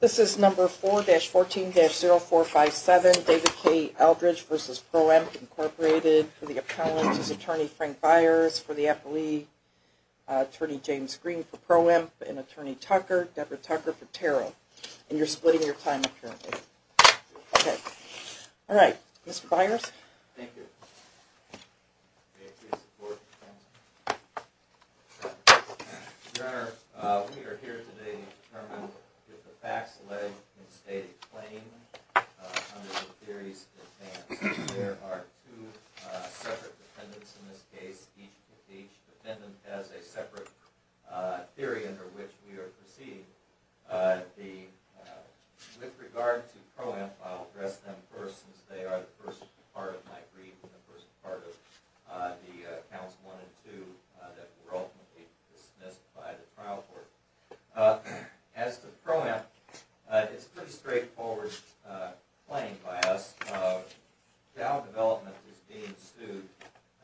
This is number 4-14-0457, David K. Eldridge v. Proemp, Inc., for the appellant. This is attorney Frank Byers for the appellee, attorney James Green for Proemp, and attorney Tucker, Deborah Tucker, for TARO. And you're splitting your time apparently. Okay. All right, Mr. Byers. Thank you. We are here today to determine if the facts laid in the stated claim under the theories in advance. There are two separate defendants in this case. Each defendant has a separate theory under which we are proceeding. With regard to Proemp, I'll address them first since they are the first part of my brief and the first part of the counts 1 and 2 that were ultimately dismissed by the trial court. As to Proemp, it's a pretty straightforward claim by us. Dow Development is being sued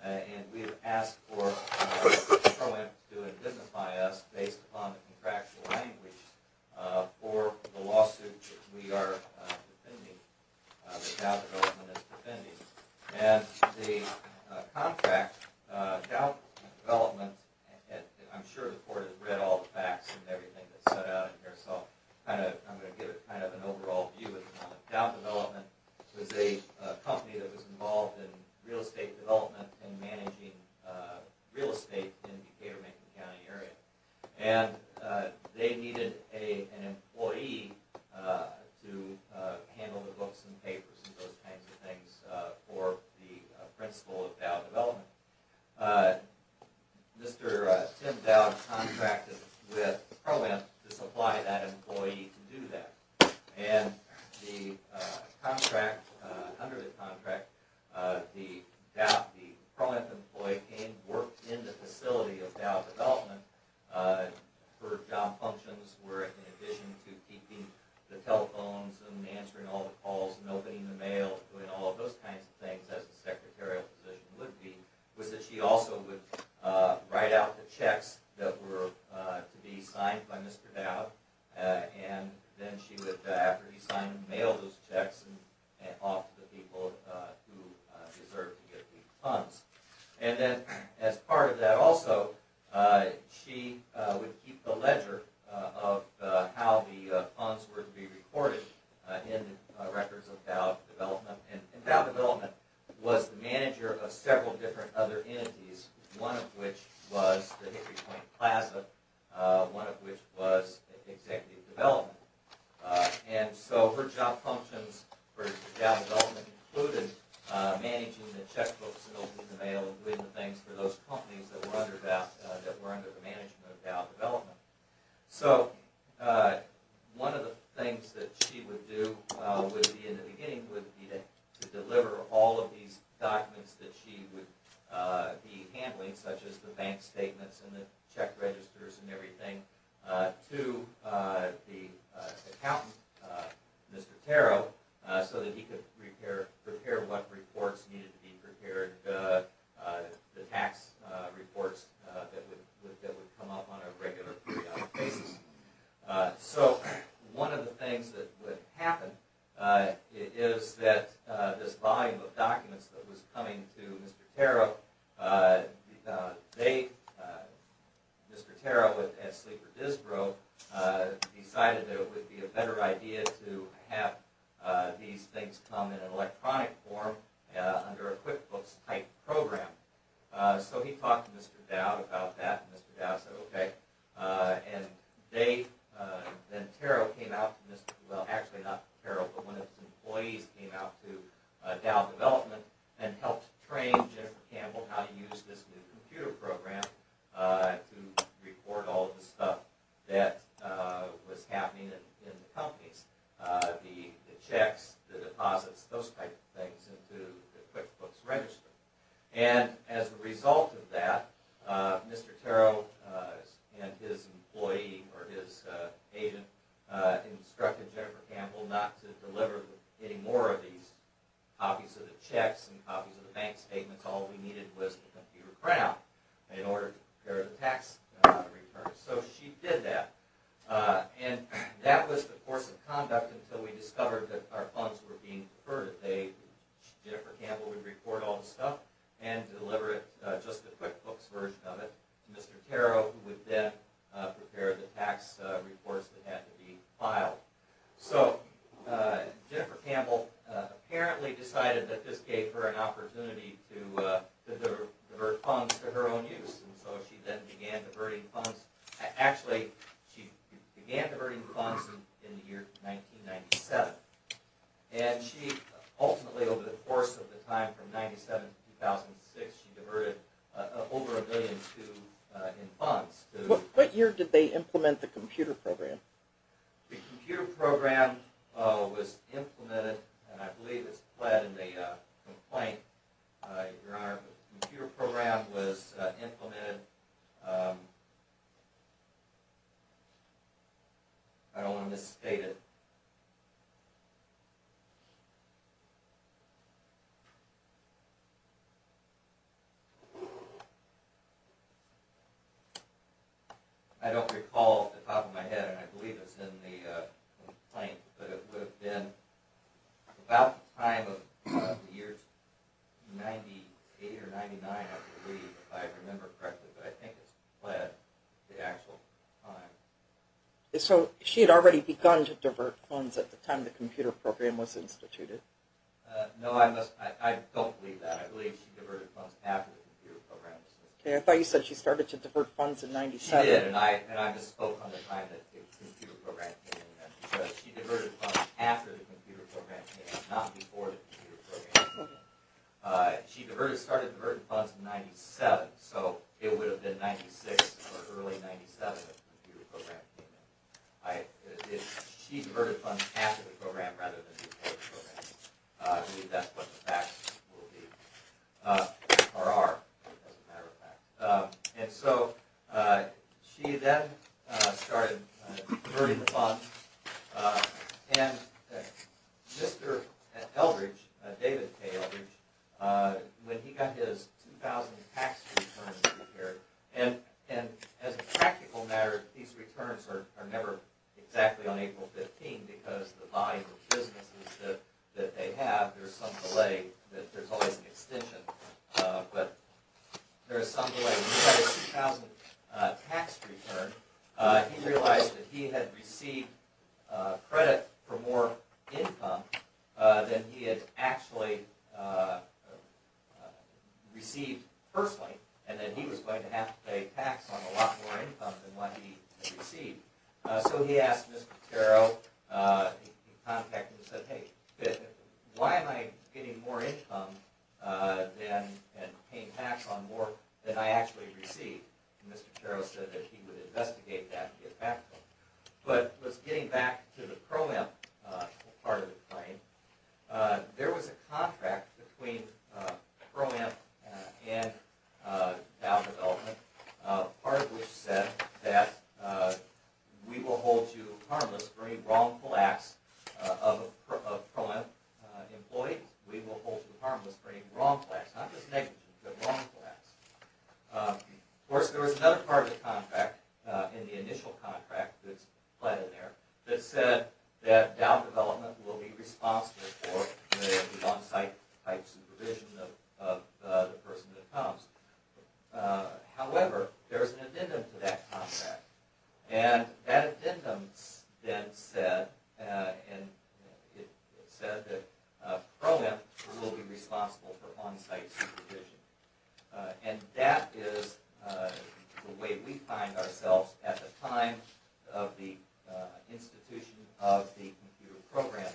and we have asked for Proemp to indemnify us based upon the contractual language for the lawsuit that we are defending, that Dow Development is defending. And the contract, Dow Development, I'm sure the court has read all the facts and everything that's set out in here, so I'm going to give kind of an overall view at the moment. Dow Development was a company that was involved in real estate development and managing real estate in the Decatur-Macon County area. And they needed an employee to handle the books and papers and those kinds of things for the principle of Dow Development. Mr. Tim Dow contracted with Proemp to supply that employee to do that. And the contract, under the contract, the Dow, the Proemp employee came, worked in the facility of Dow Development for job functions where in addition to keeping the telephones and answering all the calls and opening the mail and doing all those kinds of things as the secretarial position would be, was that she also would write out the checks that were to be signed by Mr. Dow. And then she would, after he signed, mail those checks off to the people who deserved to get these funds. And then as part of that also, she would keep the ledger of how the funds were to be recorded in the records of Dow Development. And Dow Development was the manager of several different other entities, one of which was the Hickory Point Plaza, one of which was Executive Development. And so her job functions for Dow Development included managing the checkbooks and opening the mail and doing the things for those companies that were under that, that were under the management of Dow Development. So one of the things that she would do would be in the the handling, such as the bank statements and the check registers and everything, to the accountant, Mr. Tarrow, so that he could prepare what reports needed to be prepared, the tax reports that would come up on a regular basis. So one of the things that would happen is that this volume of documents that was coming to Mr. Tarrow, they, Mr. Tarrow at Sleeper Disbro, decided that it would be a better idea to have these things come in an electronic form under a QuickBooks type program. So he talked to Mr. Dow about that, and Mr. Dow said okay. And they, then Tarrow came out, well actually not Tarrow, but one of his employees came out to Dow Development and helped train Jennifer Campbell how to use this new computer program to report all of the stuff that was happening in the companies, the checks, the deposits, those type of things into the QuickBooks register. And as a result of Mr. Tarrow and his employee, or his agent, instructed Jennifer Campbell not to deliver any more of these copies of the checks and copies of the bank statements. All we needed was the computer printout in order to prepare the tax returns. So she did that, and that was the course of conduct until we discovered that our funds were being deferred. Jennifer Campbell would report all of it to Mr. Tarrow, who would then prepare the tax reports that had to be filed. So Jennifer Campbell apparently decided that this gave her an opportunity to divert funds to her own use, and so she then began diverting funds. Actually, she began diverting funds in the year 1997. And she ultimately, over the course of the time from 1997 to 2006, she diverted over $1.2 billion in funds. What year did they implement the computer program? The computer program was implemented, and I believe it's pled in the complaint, Your Honor. The computer program was implemented. I don't want to misstate it. I don't recall off the top of my head, and I believe it's in the complaint, but it would have been about the time of the year 98 or 99, I believe, if I remember correctly, but I think it's pled the actual time. So she had already begun to divert funds at the time the computer program was instituted? No, I don't believe that. I believe she diverted funds after the computer program was instituted. Okay, I thought you said she started to divert funds in 97. She did, and I spoke on the time that the computer program came in, because she diverted funds after the computer program came in, not before the computer program came in. She started diverting funds in 97, so it would have been 96 or early 97 that the computer program came in. She diverted funds after the program rather than before the program. I believe that's what the facts will be, or are, as a matter of fact. And so she then started diverting the funds, and Mr. Eldridge, David K. Eldridge, when he got his 2,000 tax returns prepared, and as a practical matter, these returns are never exactly on April 15, because the volume of businesses that they have, there's some delay that there's always an extension, but there's some delay. He had a 2,000 tax return. He realized that he had received credit for more income than he had actually received personally, and that he was going to have to pay tax on a lot more income than what he had received. He said, why am I getting more income and paying tax on more than I actually received? Mr. Carroll said that he would investigate that and get back to him. But getting back to the ProAmp part of the claim, there was a contract between ProAmp and Dow Development, part of which said that we will hold you harmless for any wrongful acts of a ProAmp employee. We will hold you harmless for any wrongful acts, not just negative, but wrongful acts. Of course, there was another part of the contract, in the initial contract that's planted there, that said that Dow Development will be responsible for the on-site type supervision of the person that comes. However, there's an extension to that contract, and that addendum then said that ProAmp will be responsible for on-site supervision, and that is the way we find ourselves at the time of the institution of the computer program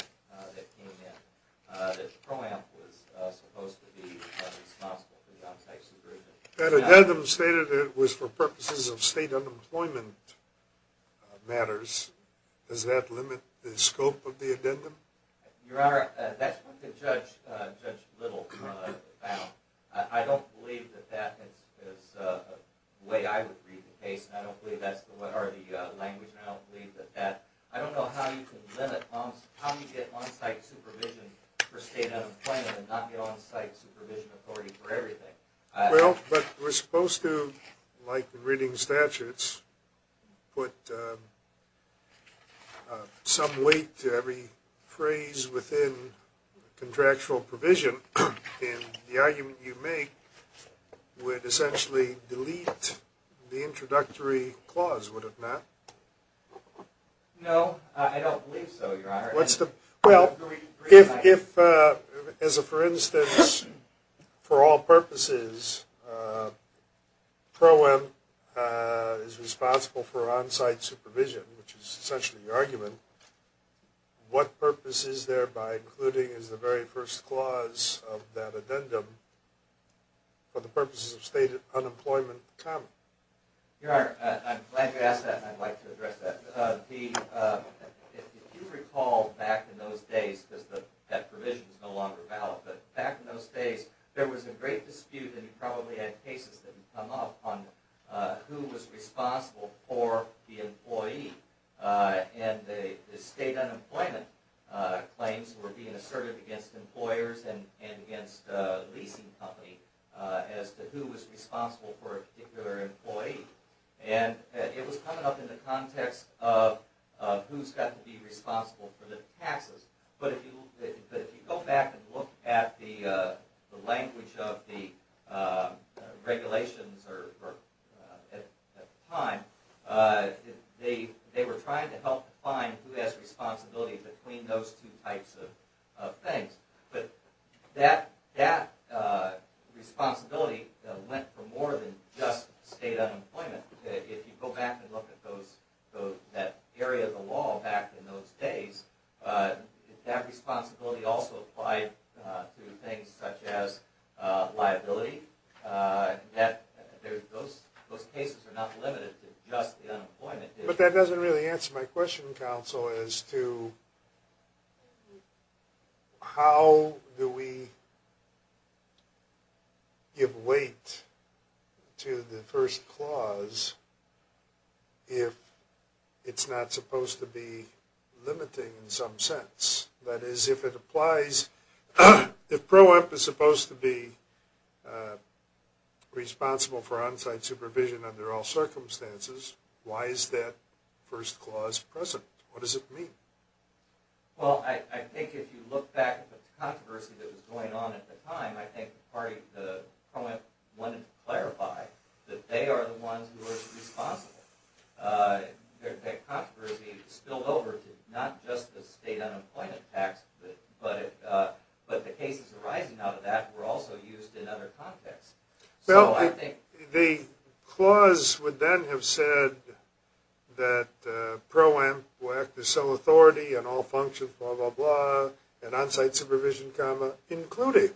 that came in, that ProAmp was supposed to be responsible for the on-site supervision. That addendum stated it was for purposes of state unemployment matters. Does that limit the scope of the addendum? Your Honor, that's what Judge Little found. I don't believe that that is the way I would read the case, and I don't believe that's what are the language, and I don't believe that that... I don't know how you can limit how you get on-site supervision for state unemployment and not get on-site supervision authority for everything. Well, but we're supposed to, like the reading statutes, put some weight to every phrase within contractual provision, and the argument you make would essentially delete the introductory clause, would it not? No, I don't believe so, Your Honor. Well, if, as a for instance, for all purposes, ProAmp is responsible for on-site supervision, which is essentially the argument, what purpose is there by including as the very first clause of that addendum for the purposes of state unemployment common? Your Honor, I'm glad you back in those days, because that provision is no longer valid, but back in those days there was a great dispute, and you probably had cases that would come up on who was responsible for the employee, and the state unemployment claims were being asserted against employers and against the leasing company as to who was responsible for a particular employee, and it was coming up in the taxes. But if you go back and look at the language of the regulations at the time, they were trying to help define who has responsibility between those two types of things, but that responsibility went for more than just state unemployment. If you go back and look at that area of the law back in those days, that responsibility also applied to things such as liability. Those cases are not limited to just the unemployment issue. But that doesn't really answer my question, counsel, as to how do we give weight to the first clause if it's not supposed to be limiting in some sense? That is, if it applies, if PRO-EMP is supposed to be responsible for on-site supervision under all circumstances, why is that first clause present? What does it mean? Well, I think if you look back at the controversy that was going on at the time, I think the PRO-EMP wanted to clarify that they are the ones who are responsible. That controversy spilled over to not just the state unemployment tax, but the cases arising out of that were also used in other contexts. Well, I think the clause would then have said that PRO-EMP will act as sole authority on all functions, blah, blah, blah, and on-site supervision, comma, including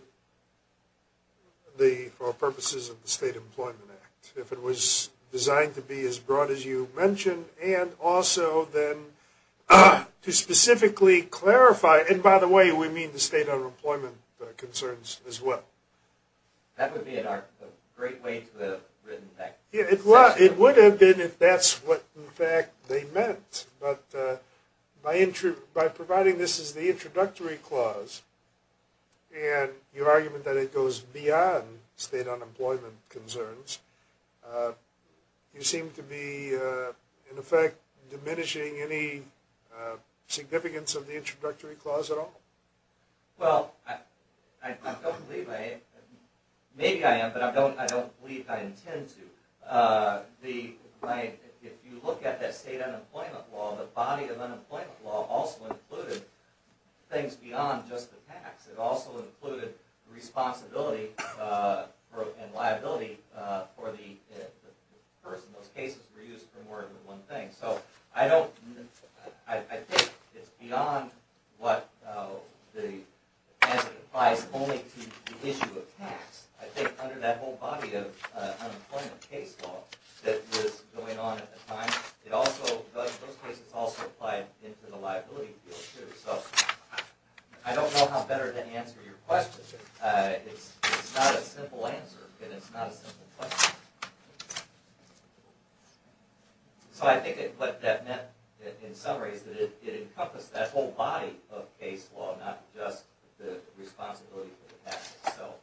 the purposes of the State Employment Act, if it was designed to be as broad as you mentioned, and also then to specifically clarify, and by the way, we mean the state unemployment concerns as well. That would be a great way to have written that. Yeah, it would have been if that's what, in fact, they meant, but by providing this as the introductory clause, and your argument that it goes beyond state unemployment concerns, you seem to be, in effect, diminishing any significance of the introductory clause at all. Well, I don't believe I, maybe I am, but I don't believe I intend to. If you look at that state unemployment law, the body of unemployment law also included things beyond just the tax. It also included responsibility and liability for the person. Those cases were used for more than one thing. I don't, I think it's beyond what the, as it applies only to the issue of tax. I think under that whole body of unemployment case law that was going on at the time, it also does, those cases also applied into the liability field too. So I don't know how better to answer your question. It's not a simple answer, and it's not a simple question. So I think what that meant in summary is that it encompassed that whole body of case law, not just the responsibility for the tax itself.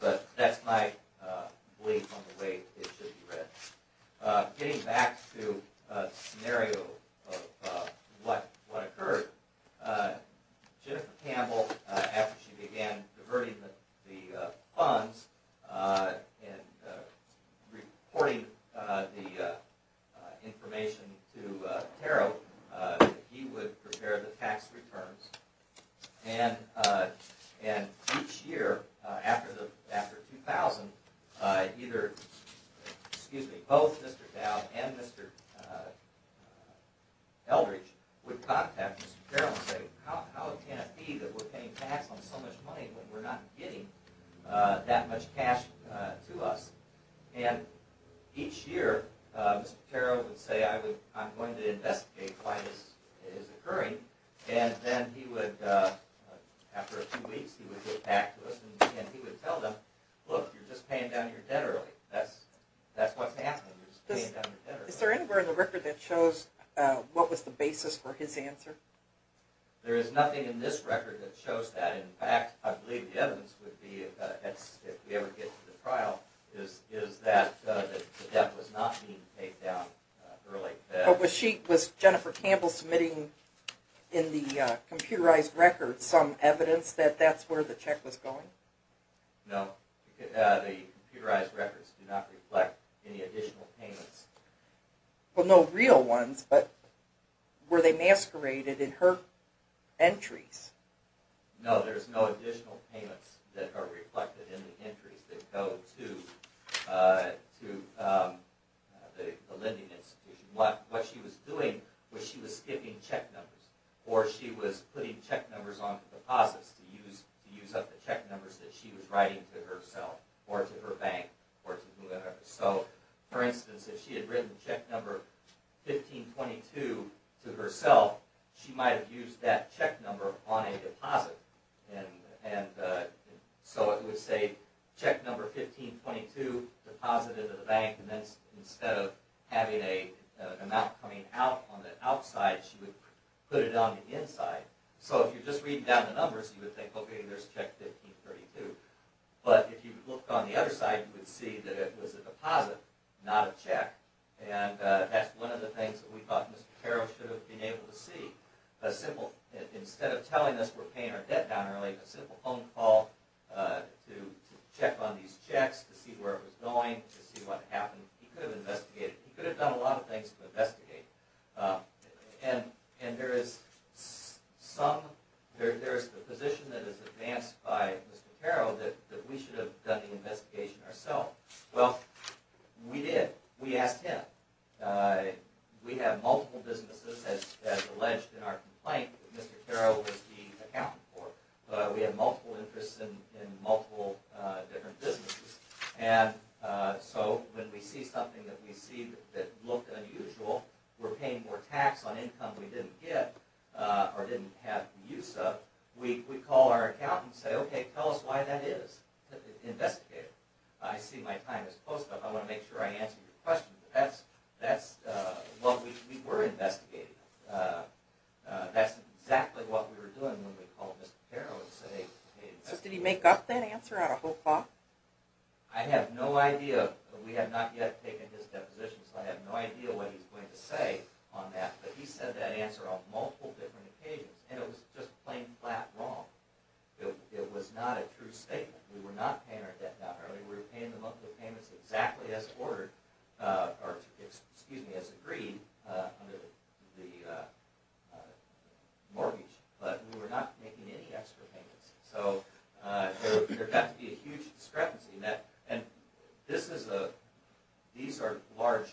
But that's my belief on the way it should be read. Getting back to the scenario of what occurred, Jennifer Campbell, after she began diverting the funds and reporting the information to Terrell, that he would prepare the tax returns. And each year after 2000, either, excuse me, both Mr. Dowd and Mr. Eldridge would contact Mr. Terrell and say, how can it be that we're paying tax on so much money when we're not getting that much cash to us? And each year, Mr. Terrell would say, I'm going to investigate why this is occurring. And then he would, after a few weeks, he would get back to us and he would tell them, look, you're just paying down your debt early. That's what's happening, you're just paying down your debt early. Is there anywhere in the record that shows what was the basis for his answer? There is nothing in this record that shows that. In fact, I believe the evidence would be, if we ever get to the trial, is that the debt was not being paid down early. Was Jennifer Campbell submitting in the computerized record some evidence that that's where the check was going? No, the computerized records do not reflect any additional payments. Well, no real ones, but were they masqueraded in her entries? No, there's no additional payments that are reflected in the entries that go to the lending institution. What she was doing was she was skipping check numbers, or she was putting check numbers on the deposits to use up the check numbers that she was writing to herself, or to her bank, or to whoever. So, for instance, if she had written check number 1522 to herself, she might have used that check number on a deposit. And so it would say, check number 1522, deposited to the bank, and then instead of having an amount coming out on the outside, she would put it on the inside. So if you're just reading down the numbers, you would think, okay, there's check 1532. But if you looked on the other side, you would see that it was a deposit, not a check. And that's one of the things that we thought Mr. Carroll should have been able to see. A simple, instead of telling us we're paying our debt down early, a simple phone call to check on these checks, to see where it was going, to see what happened. He could have investigated. He could have done a lot of things to investigate. And there is some, there's the position that is advanced by Mr. Carroll that we should have done the investigation ourselves. Well, we did. We asked him. We have multiple businesses, as alleged in our complaint, that Mr. Carroll was the accountant for. We have multiple interests in multiple different businesses. And so when we see something that we see that looked unusual, we're paying more tax on income we didn't get or didn't have the use of, we call our accountant and say, okay, tell us why that is. Investigate it. I see my time is close enough. I want to make sure I answered your question. But that's, that's, well, we were investigating. That's exactly what we were doing when we called Mr. Carroll and said, hey. So did he make up that answer on a whole clock? I have no idea. We have not yet taken his deposition. So I have no idea what he's going to say on that. But he said that answer on multiple different occasions. And it was just plain flat wrong. It was not a true statement. We were not paying our debt down early. We were paying the monthly payments exactly as ordered, or excuse me, as agreed under the mortgage. But we were not making any extra payments. So there got to be a huge discrepancy in that. And this is a, these are large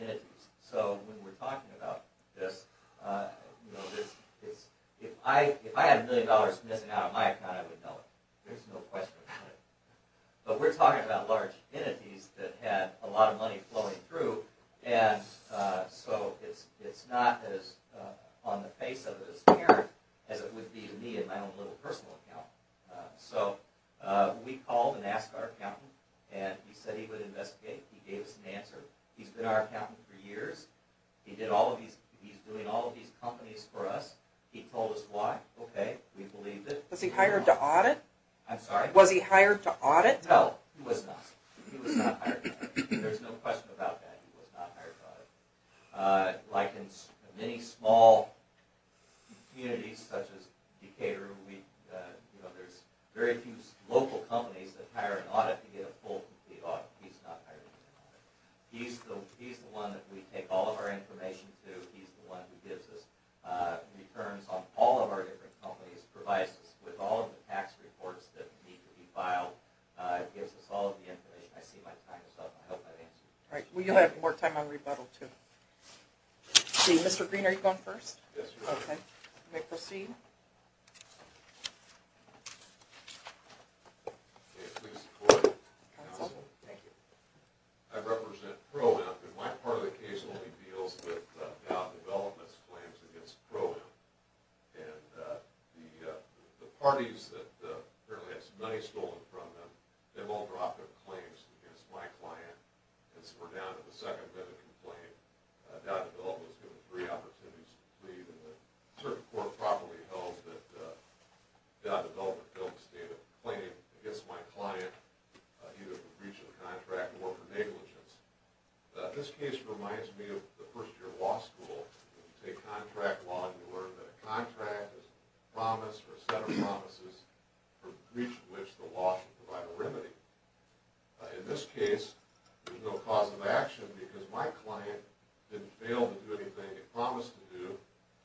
entities. So when we're talking about this, you know, if I had a million dollars missing out of my account, I would know it. There's no question about it. But we're talking about large entities that had a lot of money flowing through. And so it's not as on the face of it as it would be to me in my own little personal account. So we called and asked our accountant. And he said he would investigate. He gave us an answer. He's been our accountant for years. He did all of these. He's doing all of these companies for us. He told us why. Okay. We believed it. Was he hired to audit? I'm sorry? Was he hired to audit? No, he was not. He was not hired to audit. There's no question about that. He was not hired to audit. Like in many small communities such as Decatur, we, you know, there's very few local companies that hire an audit to get a full complete audit. He's not hired to audit. He's the one that we take all of our information to. He's the one who gives us returns on all of our different companies, provides us with all of the tax reports that need to be filed, gives us all of the information. I see my time is up. I hope I've answered. Right. We'll have more time on rebuttal too. See, Mr. Green, are you going first? Yes, ma'am. Okay. You may proceed. Okay. Please support it. Thank you. I represent Pro-Am. And my part of the case only deals with now development's claims against Pro-Am. And the parties that apparently had some money stolen from them, they've all dropped their claims against my client. And so we're down to the second bit of complaint. Dow Development was given three opportunities to plead. And the court properly held that Dow Development failed to stand a claim against my client either for breach of the contract or for negligence. This case reminds me of the first year of law school. When you take contract law, you learn that a contract is a promise or a set of promises for breach of which the law should provide a remedy. In this case, there's no cause of action because my client didn't fail to do anything it promised to do.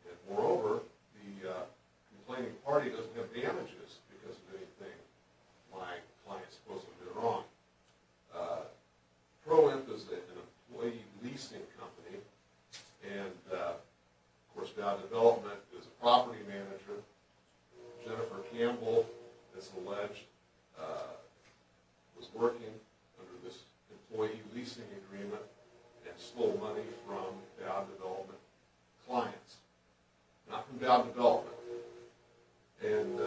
And moreover, the complaining party doesn't have damages because of anything my client supposedly did wrong. Pro-Am is an employee leasing company. And of course, Dow Development is a property manager. Jennifer Campbell, it's alleged, was working under this employee leasing agreement and stole money from Dow Development clients. Not from Dow Development. And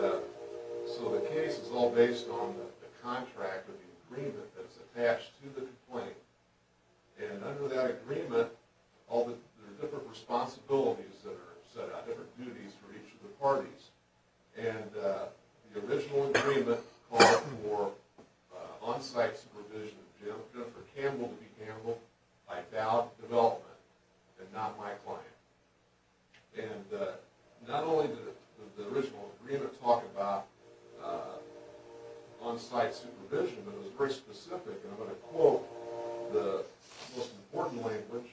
so the case is all based on the contract or the agreement that's attached to the complaint. And under that agreement, there are different responsibilities that are set out, different duties for each of the parties. And the original agreement called for on-site supervision of Jennifer Campbell to be handled by Dow Development and not my client. And not only did the original agreement talk about on-site supervision, but it was very specific. And I'm going to quote the most important language,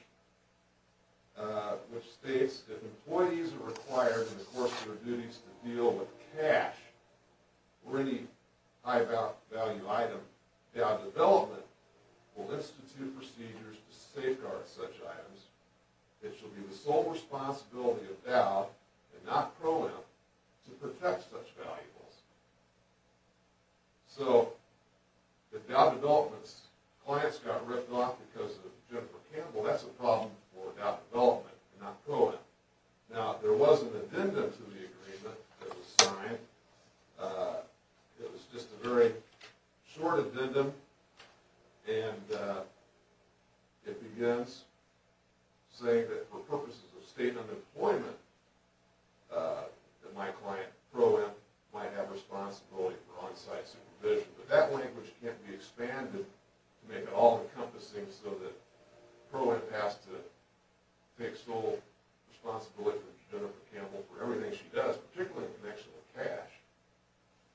which states, if employees are required in the course of their duties to deal with cash or any high-value item, Dow Development will institute procedures to safeguard such items. It shall be the sole responsibility of Dow and not Pro-Am to protect such valuables. So, if Dow Development's clients got ripped off because of Jennifer Campbell, that's a problem for Dow Development and not Pro-Am. Now, there was an addendum to the agreement that was signed. It was just a very short addendum. And it begins saying that for purposes of state unemployment, that my client, Pro-Am, might have responsibility for on-site supervision. But that language can't be expanded to make it all encompassing so that Pro-Am has to take sole responsibility for Jennifer Campbell for everything she does, particularly in connection with cash.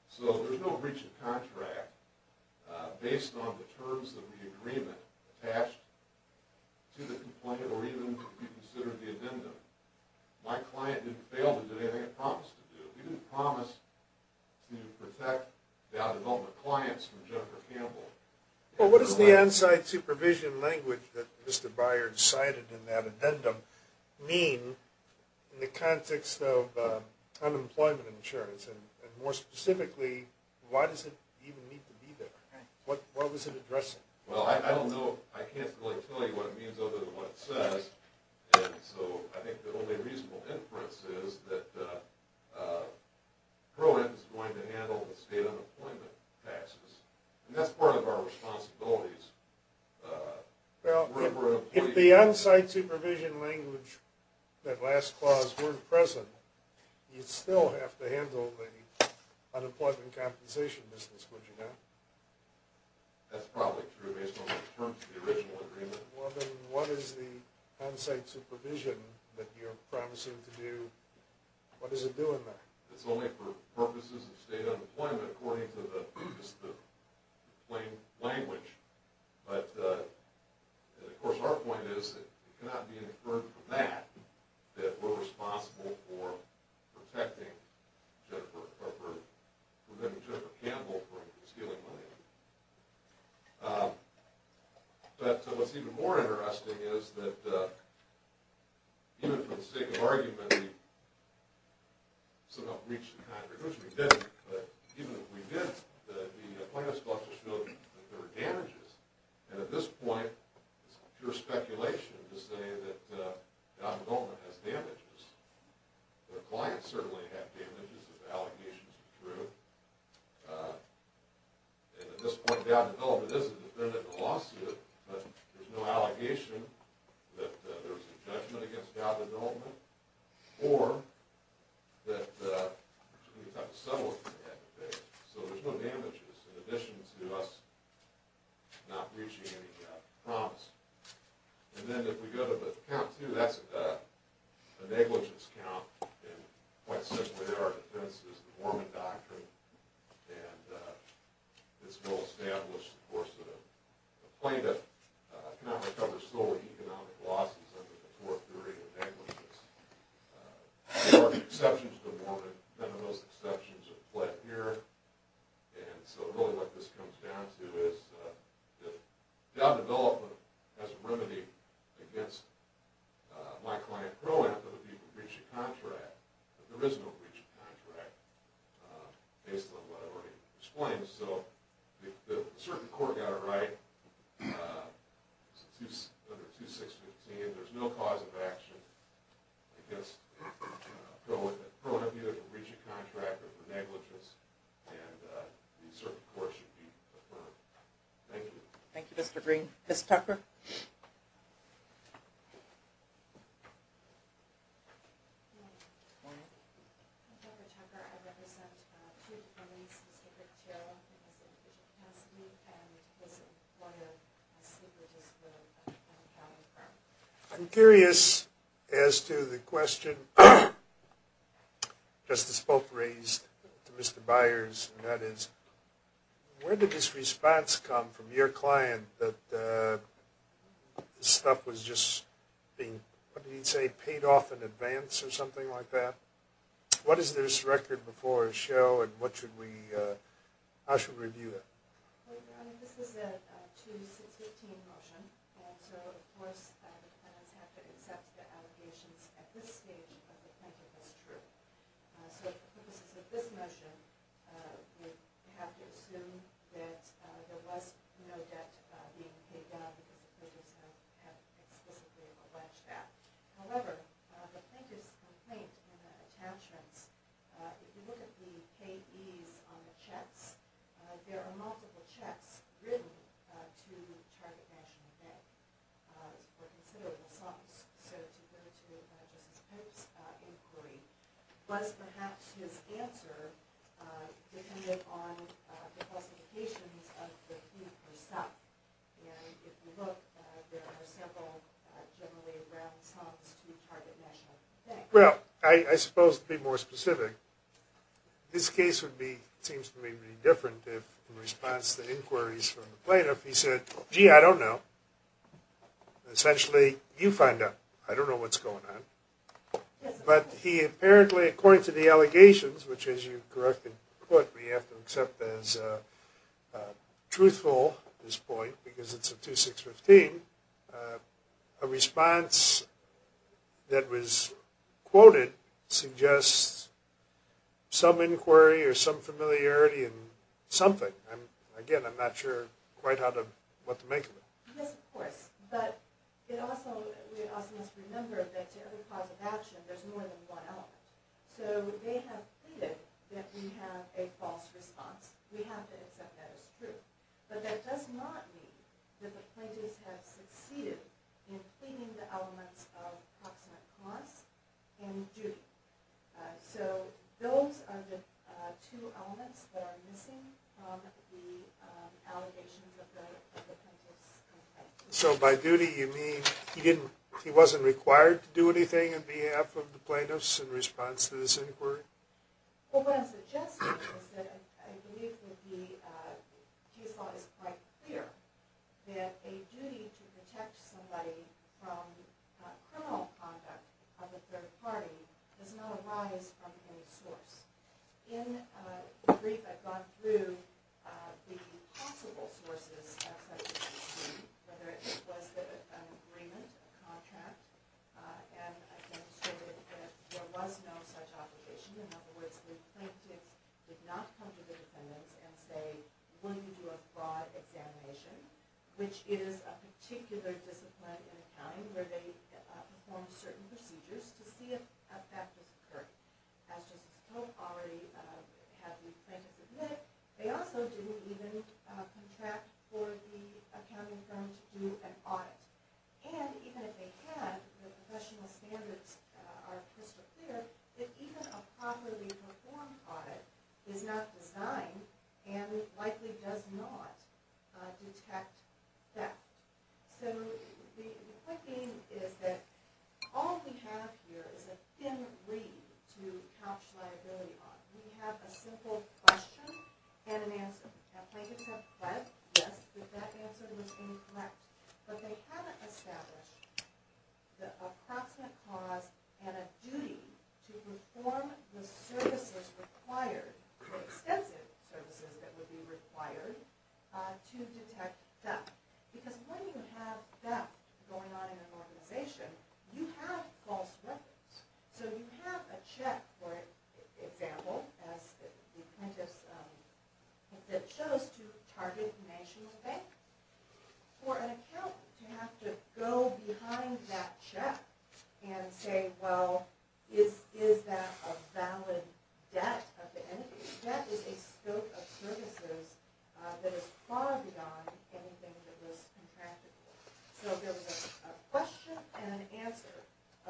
So, there's no breach of contract based on the terms of the agreement attached to the complaint or even reconsidered the addendum. My client didn't fail to do anything I promised to do. We didn't promise to protect Dow Development clients from Jennifer Campbell. Well, what does the on-site supervision language that Mr. Byard cited in that addendum mean in the context of unemployment insurance? And more specifically, why does it even need to be there? What was it addressing? Well, I don't know. I can't really tell you what it means other than what it says. And so, I think the only reasonable inference is that Pro-Am is going to handle the state unemployment taxes. And that's part of our responsibilities. Well, if the on-site supervision language, that last clause, were present, you'd still have to handle the unemployment compensation business, would you not? That's probably true based on the terms of the original agreement. What is the on-site supervision that you're promising to do? What does it do in that? It's only for purposes of state unemployment according to the plain language. But, of course, our point is that it cannot be inferred from that that we're responsible for protecting Jennifer or preventing Jennifer Campbell from stealing money. But, what's even more interesting is that, even for the sake of argument, we somehow reached the kind of conclusion we didn't, but even if we didn't, the plaintiffs thought to show that there were damages. And at this point, it's pure speculation to say that Don Goldman has damages. Their clients certainly have damages if the allegations are true. And at this point, Don Goldman is independent of the lawsuit, but there's no allegation that there's a judgment against Don Goldman, or that we've got to settle what we've had to face. So there's no damages in addition to us not reaching any promise. And then if we go to the count too, that's a negligence count. And quite simply, our defense is the Mormon Doctrine, and it's well established, of course, that a plaintiff cannot recover sole economic losses under the core theory of negligence. There are exceptions to the Mormon. None of those exceptions are flat here. And so really what this comes down to is that job development has a remedy against my client pro-empt of the breach of contract. But there is no breach of contract based on what I already explained. So the circuit court got it right under 2615. There's no cause of action against pro-empt of either the breach of contract or the negligence. And the circuit court should be affirmed. Thank you. Thank you, Mr. Green. Ms. Tucker? Morning. Morning. I'm Dr. Tucker. I represent two police, Mr. Rick Till and Mr. Hanson. And this is one of my secretaries that I'm coming from. I'm curious as to the question Justice Bolt raised to Mr. Byers, and that is, where did this response come from, your client, that this stuff was just being, what did he say, paid off in advance or something like that? What is this record before a show and what should we, how should we review it? Well, Your Honor, this is a 2615 motion. And so, of course, the plaintiffs have to accept the allegations at this stage that the plaintiff is true. So for the purposes of this motion, we have to assume that there was no debt being paid down because the plaintiffs have explicitly alleged that. However, the plaintiff's complaint and the attachments, if you look at the payees on the checks, there are multiple checks written to Target National Bank for considerable debt. And if you look, there are several generally around this office to Target National Bank. Well, I suppose to be more specific, this case would be, seems to me to be different if in response to inquiries from the plaintiff, he said, gee, I don't know. Essentially, you find out. I don't know what's going on. But he apparently, according to the allegations, which as you correctly put, we have to accept as truthful this point because it's a 2615, a response that was quoted suggests some inquiry or some familiarity in something. And again, I'm not sure quite how to, what to make of it. Yes, of course. But it also, we also must remember that to every cause of action, there's more than one element. So they have pleaded that we have a false response. We have to accept that as true. But that does not mean that the plaintiffs have succeeded in cleaning the elements of proximate cause and duty. So those are the two elements that are missing from the allegations of the plaintiff's complaint. So by duty, you mean he didn't, he wasn't required to do anything on behalf of the plaintiffs in response to this inquiry? Well, what I'm suggesting is that I believe that the case law is quite clear that a duty to protect somebody from criminal conduct of a third party does not arise from any source. In the brief, I've gone through the possible sources of such a duty, whether it was an agreement, a contract, and I've demonstrated that there was no such obligation. In other words, the plaintiff did not come to the defendants and say, will you do a broad examination, which is a particular discipline in accounting where they perform certain procedures to see if a fact has occurred. As just I hope already have the plaintiffs admit, they also didn't even contract for the accounting firm to do an audit. And even if they had, the professional standards are crystal clear that even a properly performed audit is not designed and likely does not detect theft. So the point being is that all we have here is a thin reed to couch liability on. We have a simple question and an answer. Now, plaintiffs have pledged, yes, that that answer was incorrect. But they haven't established the approximate cause and a duty to perform the services required, the extensive services that would be required, to detect theft. Because when you have theft going on in an organization, you have false records. So you have a check, for example, as the plaintiff shows, to target national bank for an account, you have to go behind that check and say, well, is that a valid debt of the entity? That is a scope of services that is far beyond anything that was contracted for. So there was a question and an answer,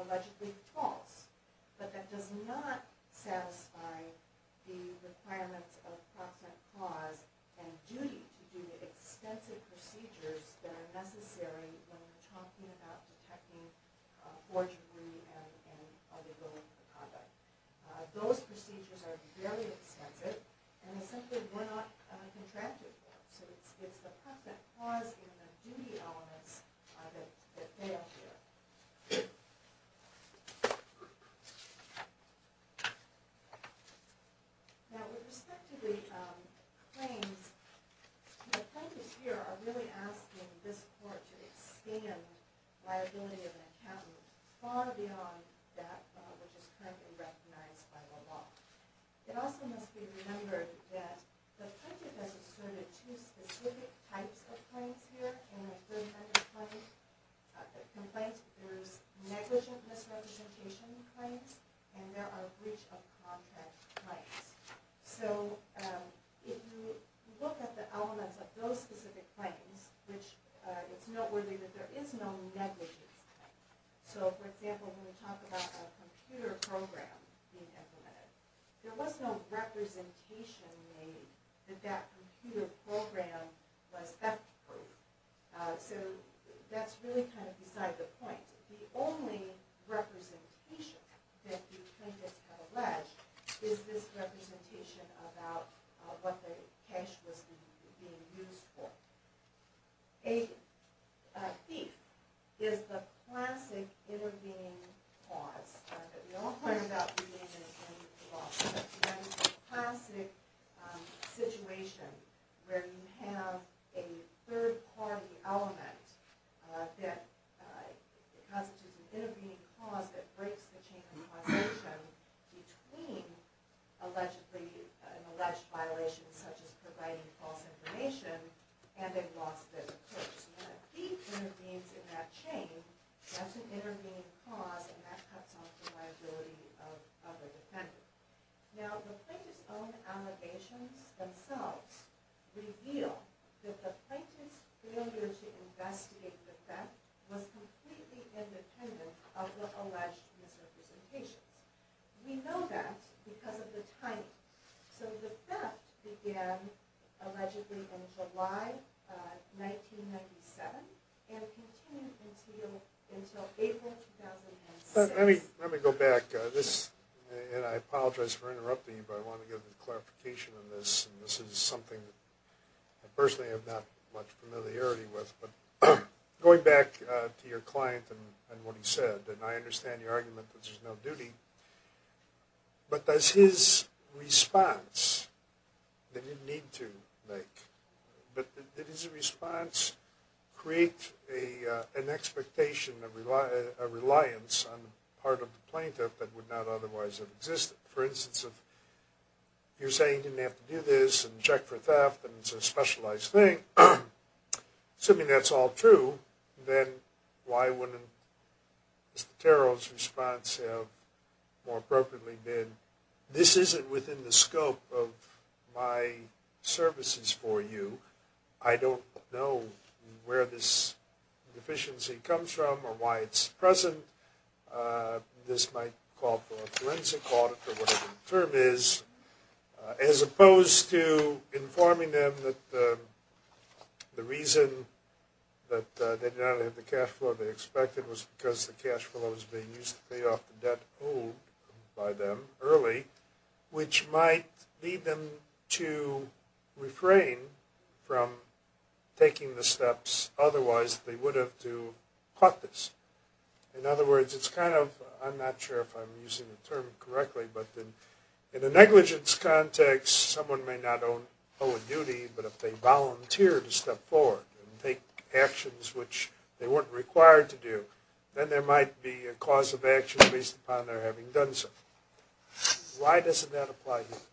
allegedly false, but that does not satisfy the requirements of approximate cause and duty to do the extensive procedures that are necessary when we're talking about detecting forgery and other forms of conduct. Those procedures are very extensive, and they simply were not contracted for. So it's the approximate cause and the duty elements that fail here. Now, with respect to the claims, the plaintiffs here are really asking this court to expand liability of an account far beyond that which is currently recognized by the law. It also must be remembered that the plaintiff has asserted two specific types of claims here in the 30-minute complaint. There's negligent misrepresentation claims, and there are breach of contract claims. So if you look at the elements of those specific claims, it's noteworthy that there is no negligent claim. So, for example, when we talk about a computer program being implemented, there was no representation made that that computer program was theft-proof. So that's really kind of beside the point. The only representation that the plaintiffs have alleged is this representation about what the cash was being used for. A thief is the classic intervening cause that we all heard about in the beginning of the law. It's a classic situation where you have a third-party element that constitutes an intervening cause that breaks the chain of causation between an alleged violation such as providing false information and a lost business case. When a thief intervenes in that chain, that's an intervening cause, and that cuts off the liability of a defendant. Now, the plaintiff's own allegations themselves reveal that the plaintiff's failure to investigate the theft was completely independent of the alleged misrepresentation. We know that because of the timing. So the theft began allegedly in July 1997 and continued until April 2006. Let me go back. I apologize for interrupting you, but I want to give a clarification on this, and this is something that I personally have not much familiarity with. But going back to your client and what he said, and I understand your argument that there's no duty, but does his response that he didn't need to make, but did his response create an expectation, a reliance on the part of the plaintiff that would not otherwise have existed? For instance, if you're saying he didn't have to do this and check for theft and it's a specialized thing, assuming that's all true, then why wouldn't Mr. Terrell's response have more appropriately been, this isn't within the scope of my services for you, I don't know where this deficiency comes from or why it's present, this might call for a forensic audit or whatever the term is, as opposed to informing them that the reason that they did not have the cash flow they expected was because the cash flow was being used to pay off the debt owed by them early, which might lead them to refrain from taking the steps otherwise they would have to have caught this. In other words, it's kind of, I'm not sure if I'm using the term correctly, but in a negligence context, someone may not owe a duty, but if they volunteer to step forward and take actions which they weren't required to do, then there might be a cause of action based upon their having done so. Why doesn't that apply to you?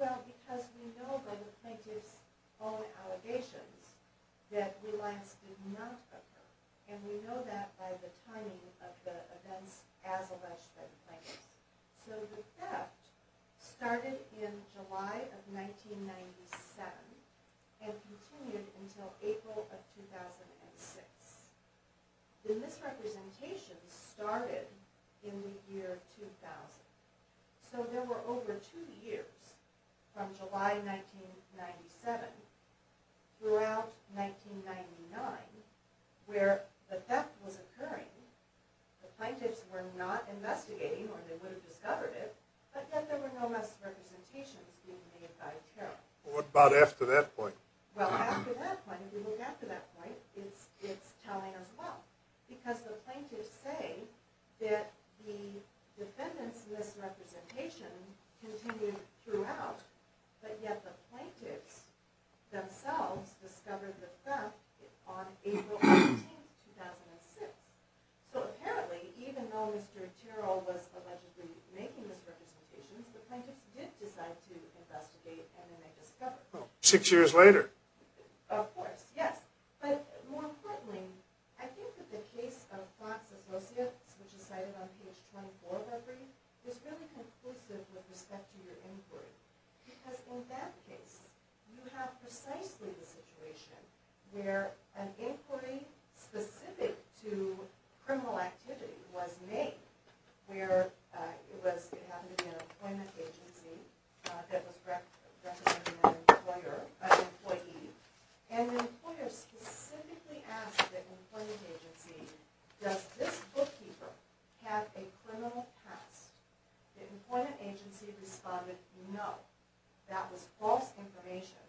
Well, because we know by the plaintiff's own allegations that reliance did not occur, and we know that by the timing of the events as alleged by the plaintiff. So the theft started in July of 1997 and continued until April of 2006. The misrepresentation started in the year 2000, so there were over two years from July 1997 throughout 1999 where the theft was occurring, the plaintiffs were not investigating or the plaintiffs themselves would have discovered it, but yet there were no misrepresentations being made by Tyrrell. What about after that point? Well, after that point, if you look after that point, it's telling as well, because the plaintiffs say that the defendant's misrepresentation continued throughout, but yet the plaintiffs themselves discovered the theft on April 18, 2006. So apparently, even though Mr. Tyrrell was allegedly making misrepresentations, the plaintiffs did decide to investigate and then they discovered it. Six years later. Of course, yes. But more importantly, I think that the case of Fox Associates, which is cited on page 24 of our brief, is really conclusive with respect to your inquiry, because in that case you have precisely the situation where an inquiry specific to criminal activity was made, where it happened to be an employment agency that was representing an employer, an employee, and the employer specifically asked the employment agency, does this bookkeeper have a criminal past? The employment agency responded, no. That was false information.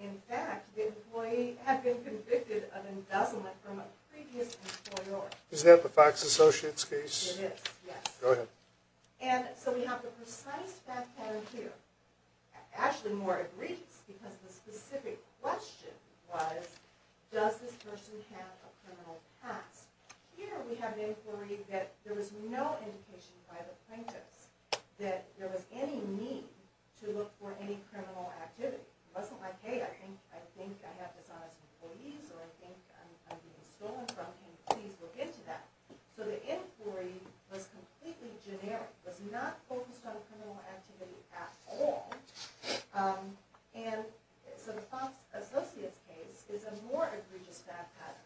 In fact, the employee had been convicted of embezzlement from a previous employer. Is that the Fox Associates case? It is, yes. Go ahead. And so we have the precise fact pattern here, actually more egregious, because the specific question was, does this person have a criminal past? Here we have an inquiry that there was no indication by the plaintiffs that there was any need to look for any criminal activity. It wasn't like, hey, I think I have dishonest employees or I think I'm being stolen from. Can you please look into that? So the inquiry was completely generic. It was not focused on criminal activity at all. And so the Fox Associates case is a more egregious fact pattern.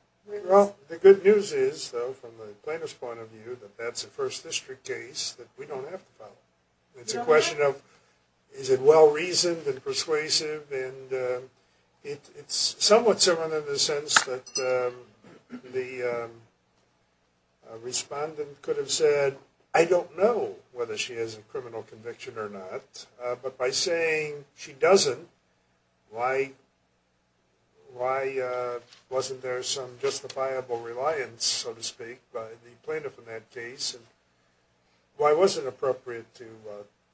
Well, the good news is, though, from the plaintiff's point of view, that that's a first district case that we don't have to follow. It's a question of, is it well-reasoned and persuasive? And it's somewhat similar in the sense that the respondent could have said, I don't know whether she has a criminal conviction or not. But by saying she doesn't, why wasn't there some justifiable reliance, so to speak, by the plaintiff in that case? And why was it appropriate to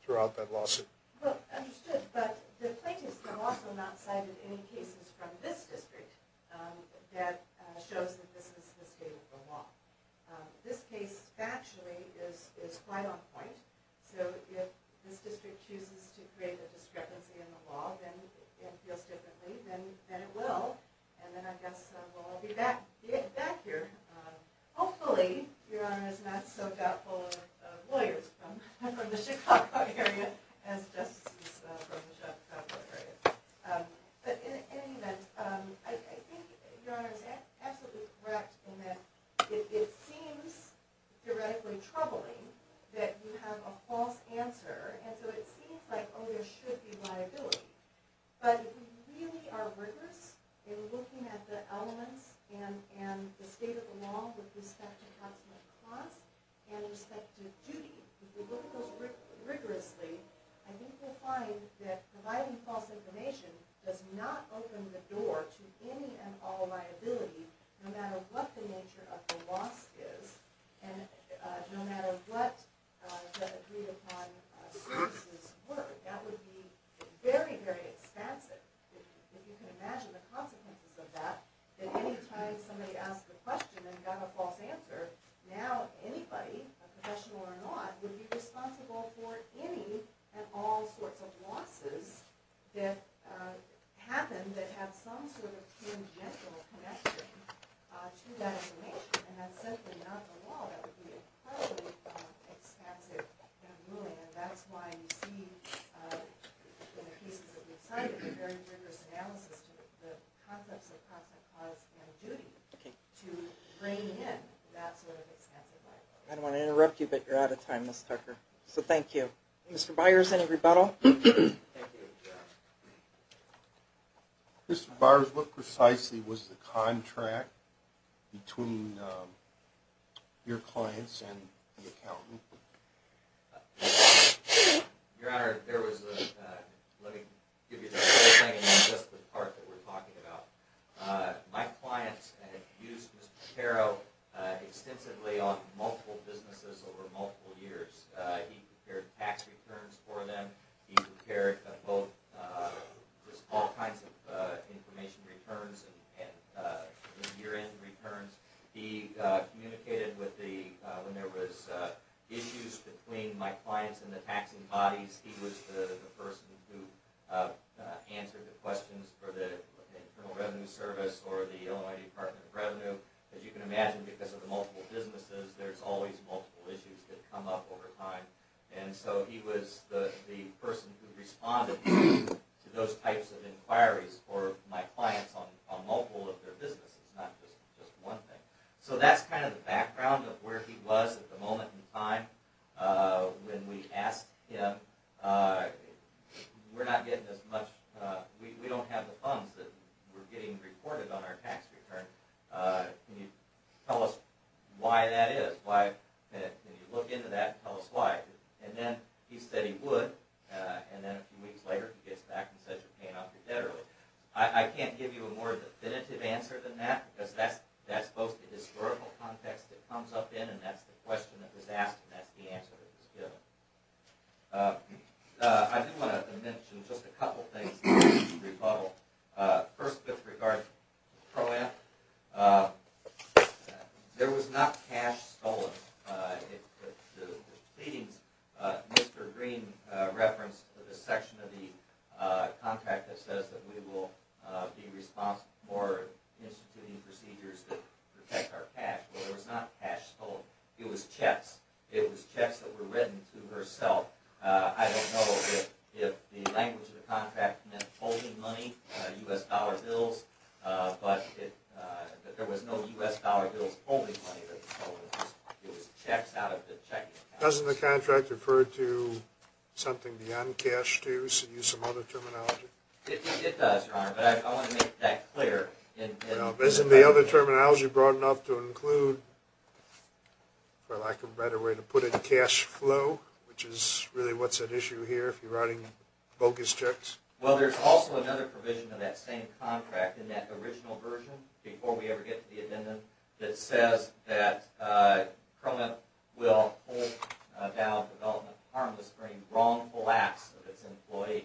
throw out that lawsuit? Well, understood. But the plaintiffs have also not cited any cases from this district that shows that this is a mistake of the law. This case, factually, is quite on point. So if this district chooses to create a discrepancy in the law, then it feels differently. Then it will. And then I guess we'll all be back here. Hopefully, Your Honor is not so doubtful of lawyers from the Chicago area as justices from the Chicago area. But in any event, I think Your Honor is absolutely correct in that it seems theoretically troubling that you have a false answer. And so it seems like, oh, there should be liability. But if you really are rigorous in looking at the elements and the state of the law with respect to consummate cost and respect to duty, if you look at those rigorously, I think you'll find that providing false information does not open the door to any and all liability, no matter what the nature of the loss is and no matter what the agreed-upon services were. That would be very, very expensive. If you can imagine the consequences of that, that any time somebody asked a question and got a false answer, now anybody, a professional or not, would be responsible for any and all sorts of losses that happen that have some sort of tangential connection to that information. And that's simply not the law. That would be incredibly expensive and ruining. And that's why you see in the cases that we've cited a very rigorous analysis to the concepts of constant cost and duty to bring in that sort of expensive liability. I don't want to interrupt you, but you're out of time, Ms. Tucker. So thank you. Mr. Byers, any rebuttal? Mr. Byers, what precisely was the contract between your clients and the accountant? Your Honor, there was a, let me give you the whole thing, not just the part that we're talking about. My clients had used Mr. Patero extensively on multiple businesses over multiple years. He prepared tax returns for them. He prepared both, all kinds of information returns and year-end returns. He communicated with the, when there was issues between my clients and the taxing bodies, he was the person who answered the questions for the Internal Revenue Service or the Illinois Department of Revenue. As you can imagine, because of the multiple businesses, there's always multiple issues that come up over time. And so he was the person who responded to those types of inquiries for my clients on multiple of their businesses, not just one thing. So that's kind of the background of where he was at the moment in time. When we asked him, we're not getting as much, we don't have the funds that we're getting reported on our tax return. Can you tell us why that is? Can you look into that and tell us why? And then he said he would. And then a few weeks later, he gets back and says, you're paying off your debt early. I can't give you a more definitive answer than that, because that's both the historical context that comes up in and that's the question that was asked and that's the answer that was given. I do want to mention just a couple things to rebuttal. First, with regard to Pro-Am, there was not cash stolen. The pleadings, Mr. Green referenced the section of the contract that says that we will be responsible for instituting procedures that protect our cash. Well, there was not cash stolen. It was checks. It was checks that were written to herself. I don't know if the language of the contract meant holding money, U.S. dollar bills, but that there was no U.S. dollar bills holding money. It was checks out of the checking accounts. Doesn't the contract refer to something beyond cash, too, so use some other terminology? It does, Your Honor, but I want to make that clear. Isn't the other terminology broad enough to include, for lack of a better way to put it, cash flow, which is really what's at issue here if you're writing bogus checks? Well, there's also another provision in that same contract, in that original version, before we ever get to the amendment, that says that Pro-Am will hold down development harmless for any wrongful acts of its employee.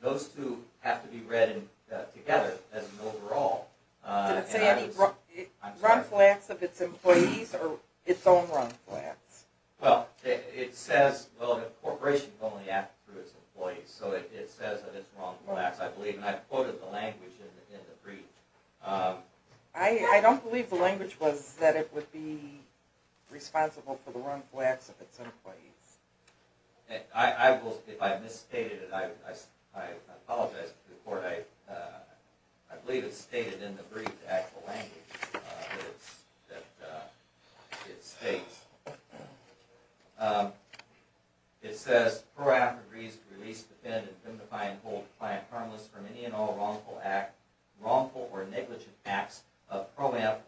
Those two have to be read together as an overall. Did it say any wrongful acts of its employees or its own wrongful acts? Well, it says, well, the corporation can only act through its employees, so it says that it's wrongful acts, I believe, and I quoted the language in the brief. I don't believe the language was that it would be responsible for the wrongful acts of its employees. I will, if I've misstated it, I apologize before I, I believe it's stated in the brief, the actual language that it states. It says, Pro-Am agrees to release, defend, and indemnify and hold the client harmless for any and all wrongful act, wrongful or negligent acts of Pro-Am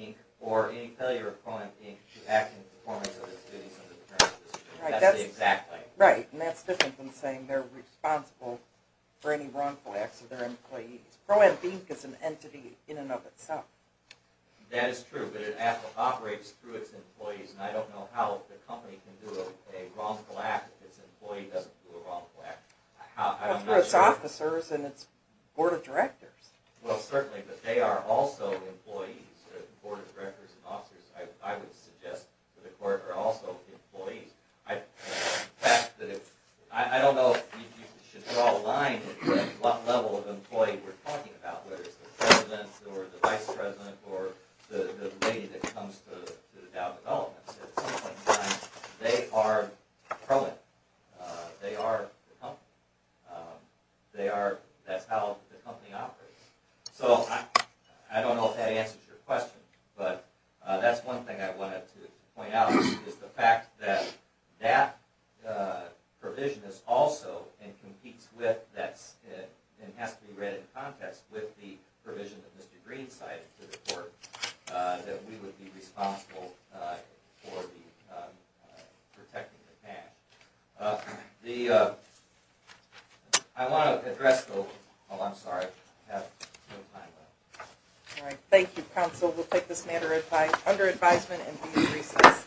Inc. or any failure of Pro-Am Inc. to act in performance of its duties under the current system. That's the exact language. Right, and that's different than saying they're responsible for any wrongful acts of their employees. Pro-Am Inc. is an entity in and of itself. That is true, but it operates through its employees, and I don't know how the company can do a wrongful act if its employee doesn't do a wrongful act. That's for its officers and its board of directors. Well, certainly, but they are also employees. The board of directors and officers, I would suggest to the court, are also employees. I don't know if you should draw a line at what level of employee we're talking about, whether it's the president or the vice president or the lady that comes to the Dow developments. At some point in time, they are Pro-Am. They are the company. They are, that's how the company operates. So, I don't know if that answers your question, but that's one thing I wanted to point out, is the fact that that provision is also and competes with that, and has to be read in context with the provision that Mr. Green cited to the court, The, I want to address the, oh, I'm sorry, I have no time left. All right, thank you, counsel. We'll take this matter under advisement and be in recess.